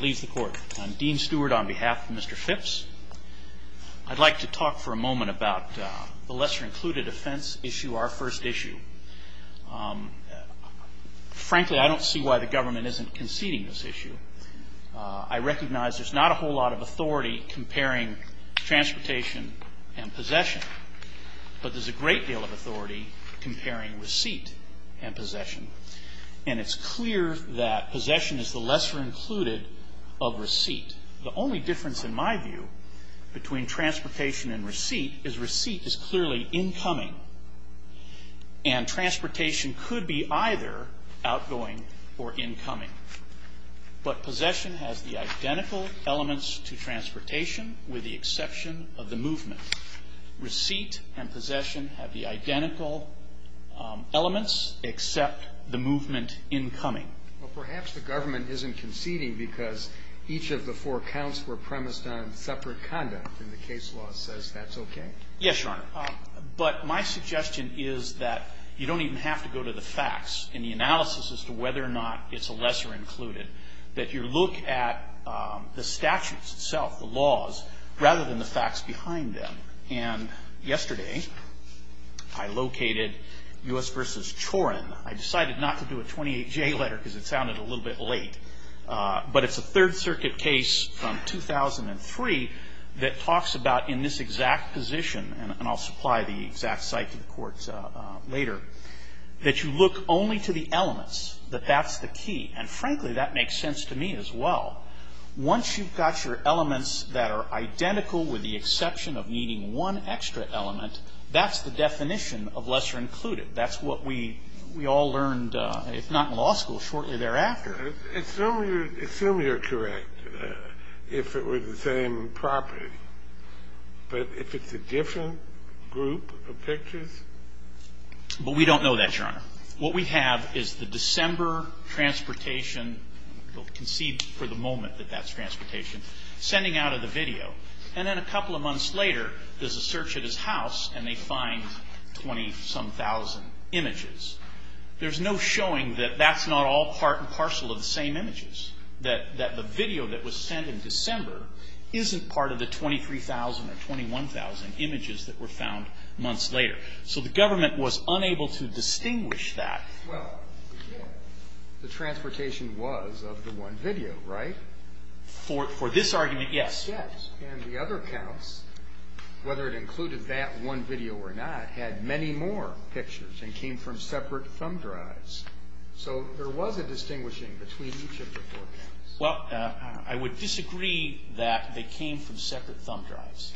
leaves the court. I'm Dean steward, on behalf of Mr. Phips. I'd like to talk for a moment about the lesser-included offense issue, our first issue. Frankly, I don't see why the government isn't conceding this issue. I recognize there's not a whole lot of authority comparing transportation and possession, but there's a great deal of authority comparing receipt and possession. And it's clear that possession is the lesser-included of receipt. The only difference, in my view, between transportation and receipt is receipt is clearly incoming. And transportation could be either outgoing or incoming. But possession has the identical elements to transportation, with the exception of the movement. Receipt and possession have the identical elements, except the movement incoming. Well, perhaps the government isn't conceding because each of the four counts were premised on separate conduct, and the case law says that's okay. Yes, Your Honor. But my suggestion is that you don't even have to go to the facts in the analysis as to whether or not it's a lesser-included, that you look at the statutes itself, the laws, rather than the facts behind them. And yesterday, I located U.S. v. Chorin. I decided not to do a 28J letter because it sounded a little bit late. But it's a Third Circuit case from 2003 that talks about, in this exact position, and I'll supply the exact site to the Court later, that you look only to the elements, that that's the key. And frankly, that makes sense to me as well. Once you've got your elements that are identical, with the exception of needing one extra element, that's the definition of lesser-included. That's what we all learned, if not in law school, shortly thereafter. Assume you're correct, if it were the same property, but if it's a different group of pictures? But we don't know that, Your Honor. What we have is the December transportation we'll concede for the moment that that's transportation, sending out of the video. And then a couple of months later, there's a search at his house, and they find 20-some-thousand images. There's no showing that that's not all part and parcel of the same images, that the video that was sent in December isn't part of the 23,000 or 21,000 images that were found months later. So the government was unable to distinguish that. Well, the transportation was of the one video, right? For this argument, yes. And the other counts, whether it included that one video or not, had many more pictures and came from separate thumb drives. So there was a distinguishing between each of the four counts. Well, I would disagree that they came from separate thumb drives.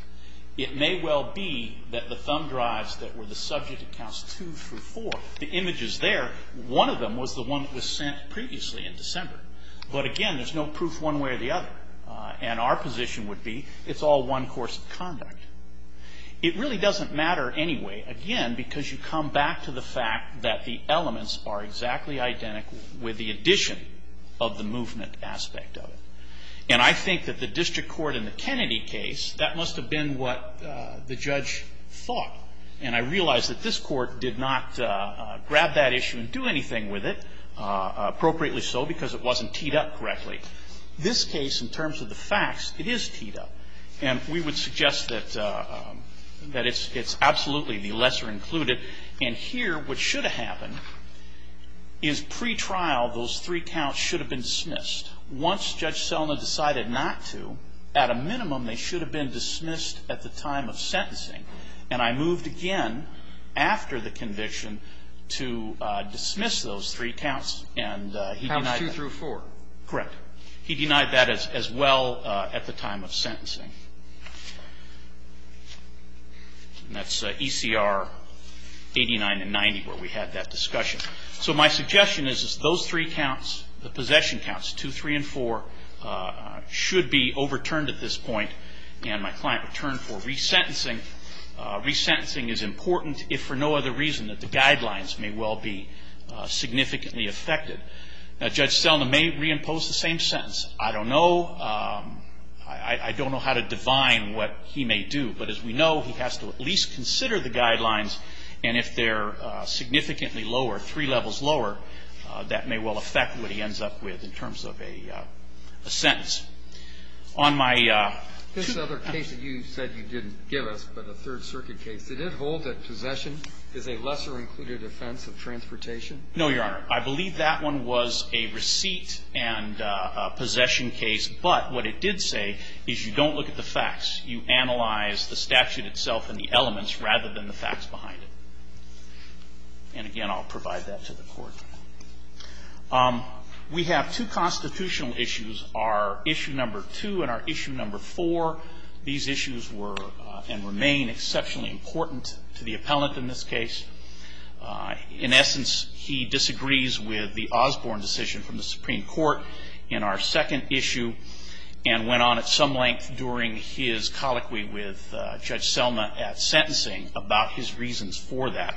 It may well be that the thumb drives that were the subject accounts two through four, the images there, one of them was the one that was sent previously in December. But again, there's no proof one way or the other. And our position would be it's all one course of conduct. It really doesn't matter anyway, again, because you come back to the fact that the elements are exactly identical with the addition of the movement aspect of it. And I think that the district court in the Kennedy case, that must have been what the judge thought. And I realize that this court did not grab that issue and do anything with it, appropriately so, because it wasn't teed up correctly. This case, in terms of the facts, it is teed up. And we would suggest that it's absolutely the lesser included. And here, what should have happened is pretrial, those three counts should have been dismissed. Once Judge Selna decided not to, at a minimum, they should have been dismissed at the time of sentencing. And I moved again after the conviction to dismiss those three counts. And he denied that. Counts 2 through 4. Correct. He denied that as well at the time of sentencing. And that's ECR 89 and 90 where we had that discussion. So my suggestion is, is those three counts, the possession counts, 2, 3, and 4, should be overturned at this point. And my client returned for resentencing. Resentencing is important, if for no other reason, that the guidelines may well be significantly affected. Now, Judge Selna may reimpose the same sentence. I don't know. I don't know how to divine what he may do. But as we know, he has to at least consider the guidelines. And if they're significantly lower, three levels lower, that may well affect what he ends up with in terms of a sentence. On my... This other case that you said you didn't give us, but a Third Circuit case, did it say lesser included offense of transportation? No, Your Honor. I believe that one was a receipt and a possession case. But what it did say is you don't look at the facts. You analyze the statute itself and the elements rather than the facts behind it. And again, I'll provide that to the Court. We have two constitutional issues, our issue number 2 and our issue number 4. These In essence, he disagrees with the Osborne decision from the Supreme Court in our second issue and went on at some length during his colloquy with Judge Selna at sentencing about his reasons for that.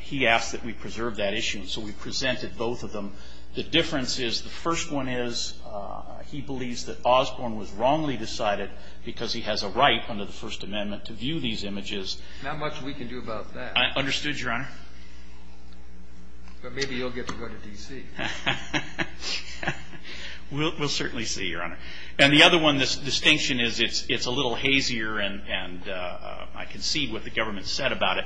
He asked that we preserve that issue. And so we presented both of them. The difference is the first one is he believes that Osborne was wrongly decided because he has a right under the First Amendment to view these images. Not much we can do about that. Understood, Your Honor. But maybe you'll get to go to D.C. We'll certainly see, Your Honor. And the other one, the distinction is it's a little hazier and I concede what the government said about it.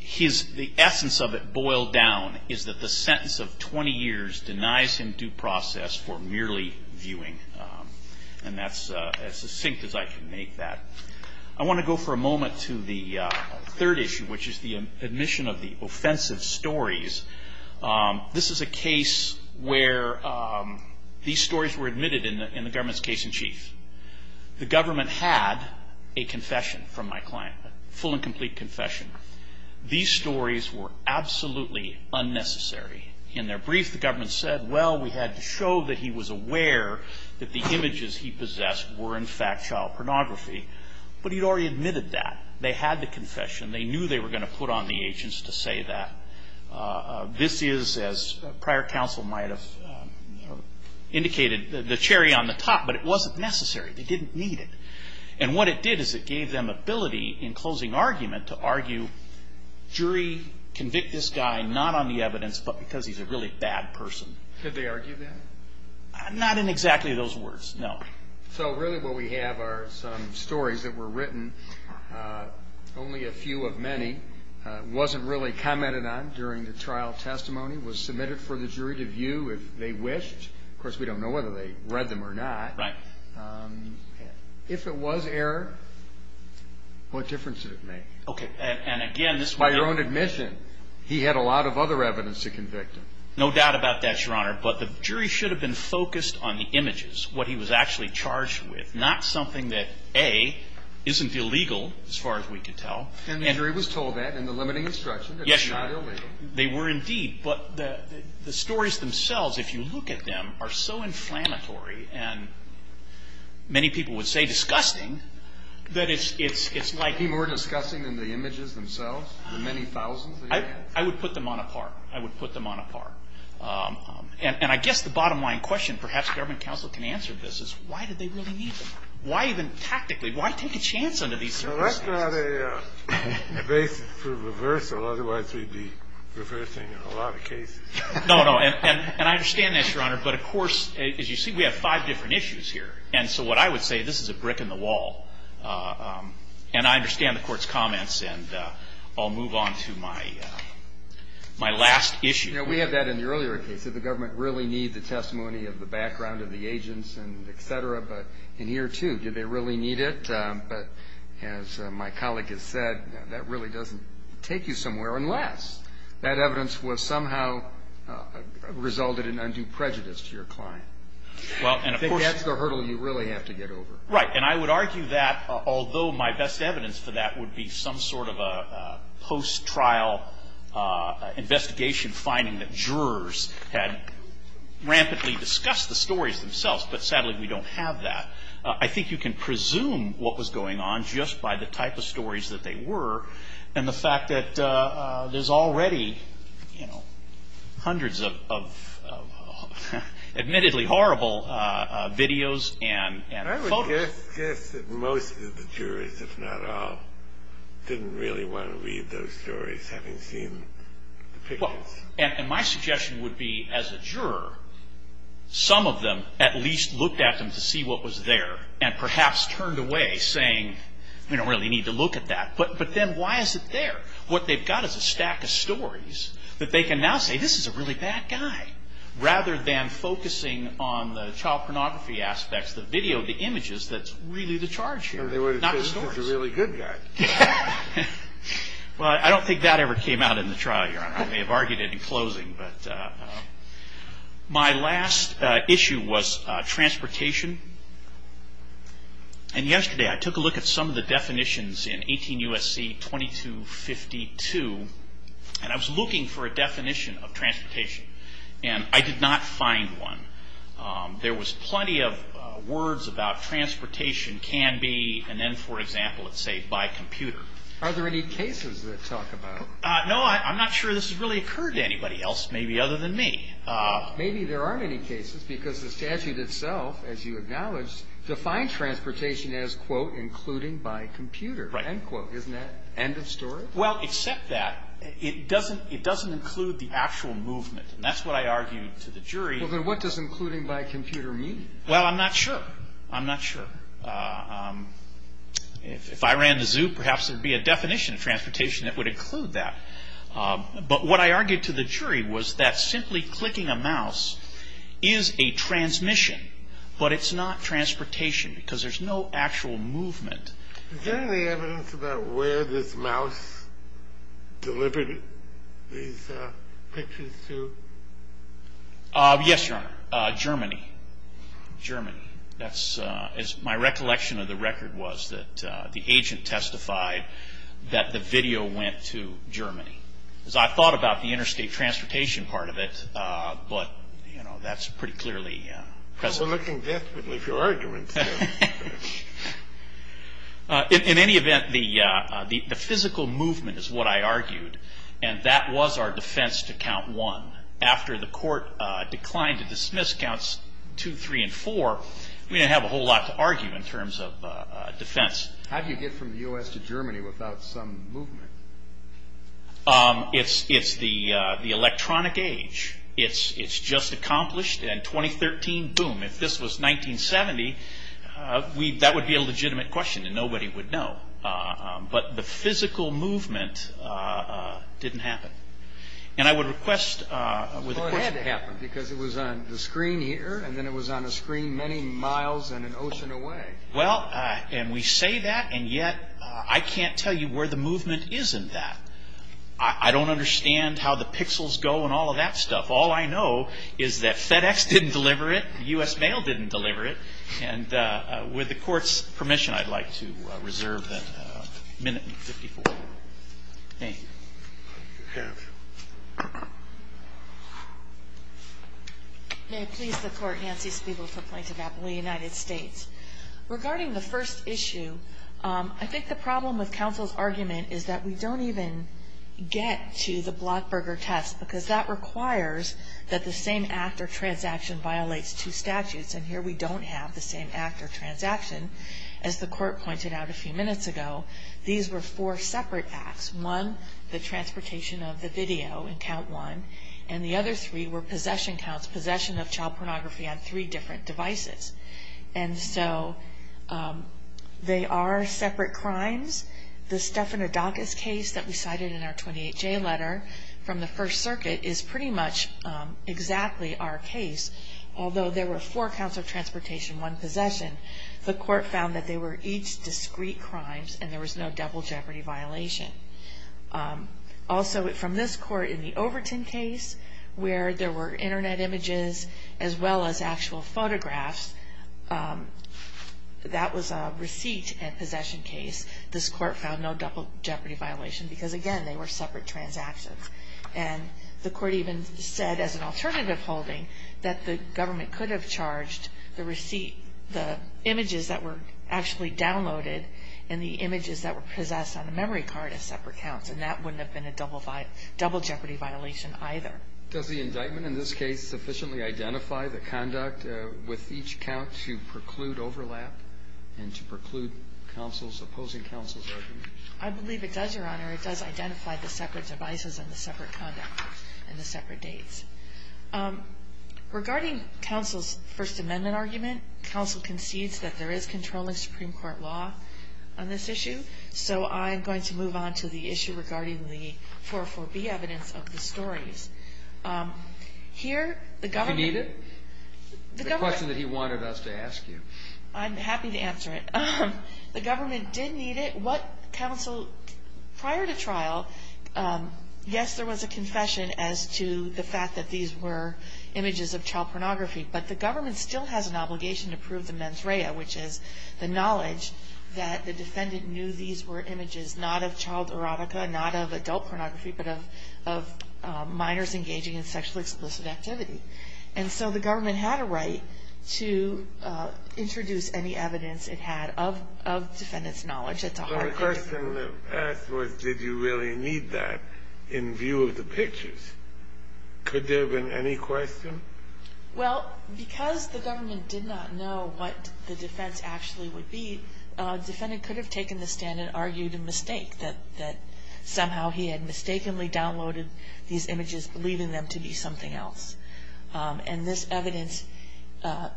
The essence of it boiled down is that the sentence of 20 years denies him due process for merely viewing. And that's as succinct as I can make that. I want to go for a moment to the third issue, which is the admission of the offensive stories. This is a case where these stories were admitted in the government's case in chief. The government had a confession from my client, a full and complete confession. These stories were absolutely unnecessary. In their brief, the government said, well, we had to show that he was aware that the images he possessed were in fact child pornography. But he'd already admitted that. They had the confession. They knew they were going to put on the agents to say that. This is, as prior counsel might have indicated, the cherry on the top, but it wasn't necessary. They didn't need it. And what it did is it gave them ability in closing argument to argue, jury, convict this guy not on the evidence but because he's a really bad person. Could they argue that? Not in exactly those words, no. So really what we have are some stories that were written, only a few of many, wasn't really commented on during the trial testimony, was submitted for the jury to view if they wished. Of course, we don't know whether they read them or not. Right. If it was error, what difference did it make? By your own admission, he had a lot of other evidence to convict him. No doubt about that, Your Honor. But the jury should have been focused on the images, what he was actually charged with, not something that, A, isn't illegal as far as we can tell. And the jury was told that in the limiting instruction that it's not illegal. They were indeed. But the stories themselves, if you look at them, are so inflammatory and many people would say disgusting that it's like people were disgusting in the images themselves, the many thousands that he had. I would put them on a par. I would put them on a par. And I guess the bottom line question, perhaps a government counsel can answer this, is why did they really need them? Why even tactically, why take a chance under these circumstances? That's not a basis for reversal, otherwise we'd be reversing a lot of cases. No, no. And I understand this, Your Honor. But of course, as you see, we have five different issues here. And so what I would say, this is a brick in the wall. And I understand the Court's comments. And I'll move on to my last issue. You know, we had that in the earlier case. Did the government really need the testimony of the background of the agents and et cetera? But in here, too, did they really need it? But as my colleague has said, that really doesn't take you somewhere unless that evidence was somehow resulted in undue prejudice to your client. Well, and of course the hurdle you really have to get over. Right. And I would argue that, although my best evidence for that would be some sort of a post-trial investigation finding that jurors had rampantly discussed the stories themselves, but sadly we don't have that. I think you can presume what was going on just by the type of stories that they were and the fact that there's already, you know, hundreds of admittedly horrible videos and photos. I would guess that most of the jurors, if not all, didn't really want to read those stories having seen the pictures. And my suggestion would be, as a juror, some of them at least looked at them to see what was there and perhaps turned away saying, we don't really need to look at that. But then why is it there? What they've got is a stack of stories that they can now say, this is a really bad guy. Rather than focusing on the child pornography aspects, the video, the images, that's really the charge here, not the stories. Well, I don't think that ever came out in the trial, Your Honor. I may have argued it in closing. But my last issue was transportation. And yesterday I took a look at some of the definitions in 18 U.S.C. 2252, and I was looking for a definition of transportation. And I did not find one. There was plenty of words about transportation can be, and then, for example, let's say, by computer. Are there any cases that talk about it? No, I'm not sure this has really occurred to anybody else, maybe other than me. Maybe there aren't any cases because the statute itself, as you acknowledged, defined transportation as, quote, including by computer, end quote. Isn't that end of story? Well, except that, it doesn't include the actual movement. And that's what I argued to the jury. Well, then what does including by computer mean? Well, I'm not sure. I'm not sure. If I ran the zoo, perhaps there would be a definition of transportation that would include that. But what I argued to the jury was that simply clicking a mouse is a transmission, but it's not transportation because there's no actual movement. Is there any evidence about where this mouse delivered these pictures to? Yes, Your Honor, Germany. Germany. My recollection of the record was that the agent testified that the video went to Germany. I thought about the interstate transportation part of it, but that's pretty clearly present. You're looking deathly for arguments. In any event, the physical movement is what I argued, and that was our defense to count one. After the court declined to dismiss counts two, three, and four, we didn't have a whole lot to argue in terms of defense. How do you get from the U.S. to Germany without some movement? It's the electronic age. It's just accomplished, and 2013, boom. If this was 1970, that would be a legitimate question, and nobody would know. But the physical movement didn't happen. And I would request with a question. Well, it had to happen because it was on the screen here, and then it was on a screen many miles and an ocean away. Well, and we say that, and yet I can't tell you where the movement is in that. I don't understand how the pixels go and all of that stuff. All I know is that FedEx didn't deliver it. U.S. Mail didn't deliver it. And with the Court's permission, I'd like to reserve that minute and 54. Thank you. May it please the Court. Nancy Spiegel for Plaintiff Appleby, United States. Regarding the first issue, I think the problem with counsel's argument is that we don't even get to the Blockburger test because that requires that the same act or transaction violates two statutes, and here we don't have the same act or transaction. As the Court pointed out a few minutes ago, these were four separate acts. One, the transportation of the video in count one, and the other three were possession counts, possession of child pornography on three different devices. And so they are separate crimes. The Stephanodakis case that we cited in our 28-J letter from the First Circuit is pretty much exactly our case, although there were four counts of transportation, one possession. The Court found that they were each discrete crimes and there was no double jeopardy violation. Also, from this Court, in the Overton case, where there were Internet images as well as actual photographs, that was a receipt and possession case. This Court found no double jeopardy violation because, again, they were separate transactions. And the Court even said as an alternative holding that the government could have charged the receipt, the images that were actually downloaded and the images that were possessed on the memory card as separate counts, and that wouldn't have been a double jeopardy violation either. Does the indictment in this case sufficiently identify the conduct with each count to preclude overlap and to preclude opposing counsel's argument? I believe it does, Your Honor. It does identify the separate devices and the separate conduct and the separate dates. Regarding counsel's First Amendment argument, counsel concedes that there is controlling Supreme Court law on this issue, so I'm going to move on to the issue regarding the 404B evidence of the stories. Here, the government... Do you need it? The question that he wanted us to ask you. I'm happy to answer it. The government did need it. What counsel prior to trial, yes, there was a confession as to the fact that these were images of child pornography, but the government still has an obligation to prove the mens rea, which is the knowledge that the defendant knew these were images not of child erotica, not of adult pornography, but of minors engaging in sexually explicit activity. And so the government had a right to introduce any evidence it had of defendant's knowledge. The question that was asked was did you really need that in view of the pictures. Could there have been any question? Well, because the government did not know what the defense actually would be, the defendant could have taken the stand and argued a mistake, that somehow he had mistakenly downloaded these images, believing them to be something else. And this evidence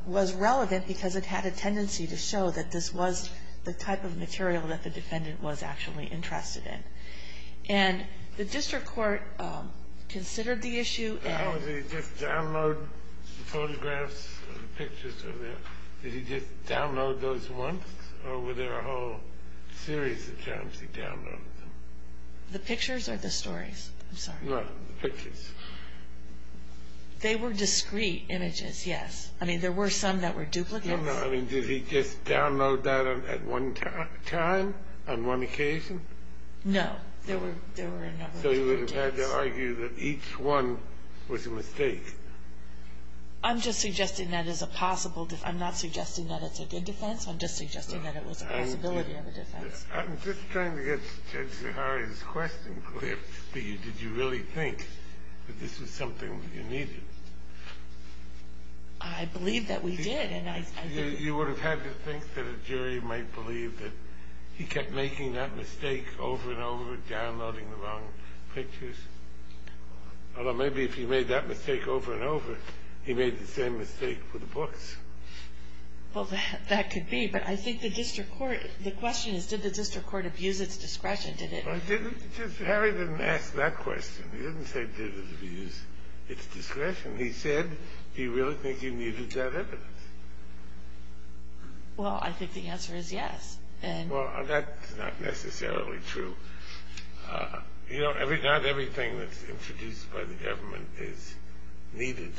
was relevant because it had a tendency to show that this was the type of material that the defendant was actually interested in. And the district court considered the issue and... The photographs, the pictures over there, did he just download those once or were there a whole series of times he downloaded them? The pictures or the stories? I'm sorry. No, the pictures. They were discrete images, yes. I mean, there were some that were duplicates. No, no, I mean, did he just download that at one time, on one occasion? No, there were a number of duplicates. So you would have had to argue that each one was a mistake? I'm just suggesting that as a possible defense. I'm not suggesting that it's a good defense. I'm just suggesting that it was a possibility of a defense. I'm just trying to get Judge Zahari's question clear for you. Did you really think that this was something you needed? I believe that we did. You would have had to think that a jury might believe that he kept making that mistake over and over, downloading the wrong pictures. Although maybe if he made that mistake over and over, he made the same mistake with the books. Well, that could be. But I think the question is, did the district court abuse its discretion? Harry didn't ask that question. He didn't say, did it abuse its discretion? He said, do you really think you needed that evidence? Well, I think the answer is yes. Well, that's not necessarily true. You know, not everything that's introduced by the government is needed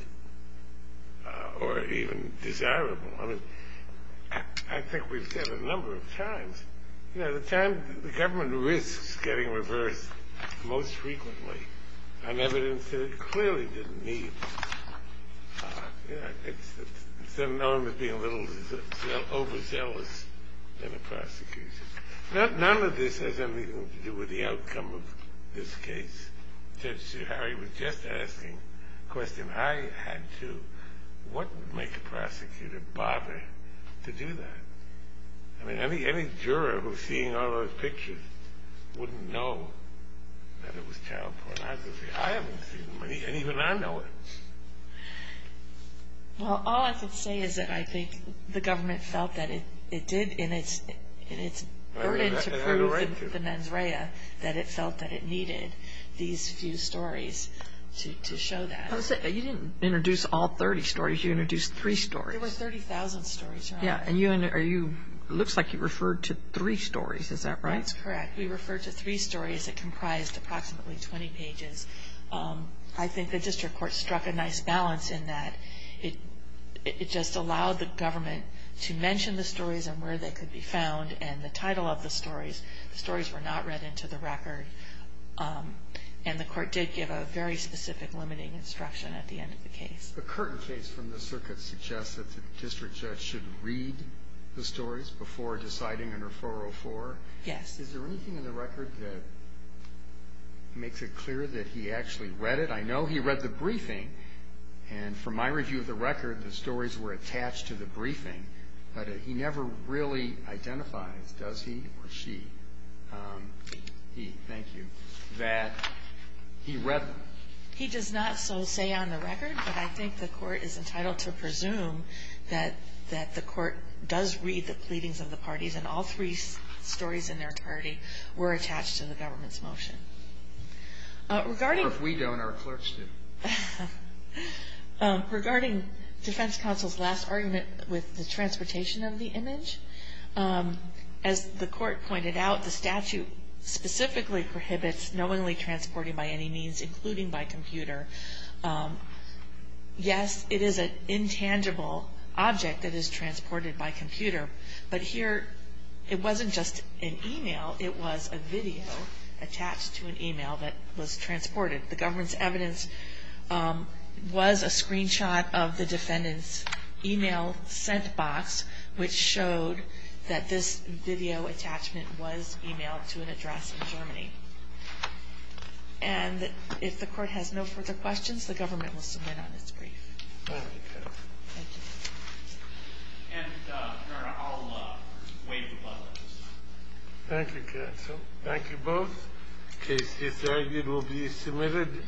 or even desirable. I mean, I think we've said a number of times, you know, the government risks getting reversed most frequently on evidence that it clearly didn't need. You know, it's sort of known as being a little overzealous in a prosecution. None of this has anything to do with the outcome of this case. Judge Zahari was just asking a question. I had to. What would make a prosecutor bother to do that? I mean, any juror who's seeing all those pictures wouldn't know that it was child pornography. I haven't seen any, and even I know it. Well, all I can say is that I think the government felt that it did in its burden to prove the mens rea that it felt that it needed these few stories to show that. You didn't introduce all 30 stories. You introduced three stories. There were 30,000 stories, Your Honor. Yeah, and you, it looks like you referred to three stories. Is that right? That's correct. We referred to three stories that comprised approximately 20 pages. I think the district court struck a nice balance in that it just allowed the government to mention the stories and where they could be found and the title of the stories. The stories were not read into the record, and the court did give a very specific limiting instruction at the end of the case. The Curtin case from the circuit suggests that the district judge should read the stories before deciding under 404. Yes. Is there anything in the record that makes it clear that he actually read it? I know he read the briefing, and from my review of the record, the stories were attached to the briefing, but he never really identifies, does he or she, he, thank you, that he read them. He does not so say on the record, but I think the court is entitled to presume that the court does read the pleadings of the parties and all three stories in their entirety were attached to the government's motion. If we don't, our clerks do. Regarding defense counsel's last argument with the transportation of the image, as the court pointed out, the statute specifically prohibits knowingly transporting by any means, including by computer. Yes, it is an intangible object that is transported by computer, but here it wasn't just an email, it was a video attached to an email that was transported. The government's evidence was a screenshot of the defendant's email sent box, which showed that this video attachment was emailed to an address in Germany. And if the court has no further questions, the government will submit on its brief. Thank you. Thank you. And, Your Honor, I'll waive the buzzer. Thank you, counsel. Thank you both. The case is argued, will be submitted.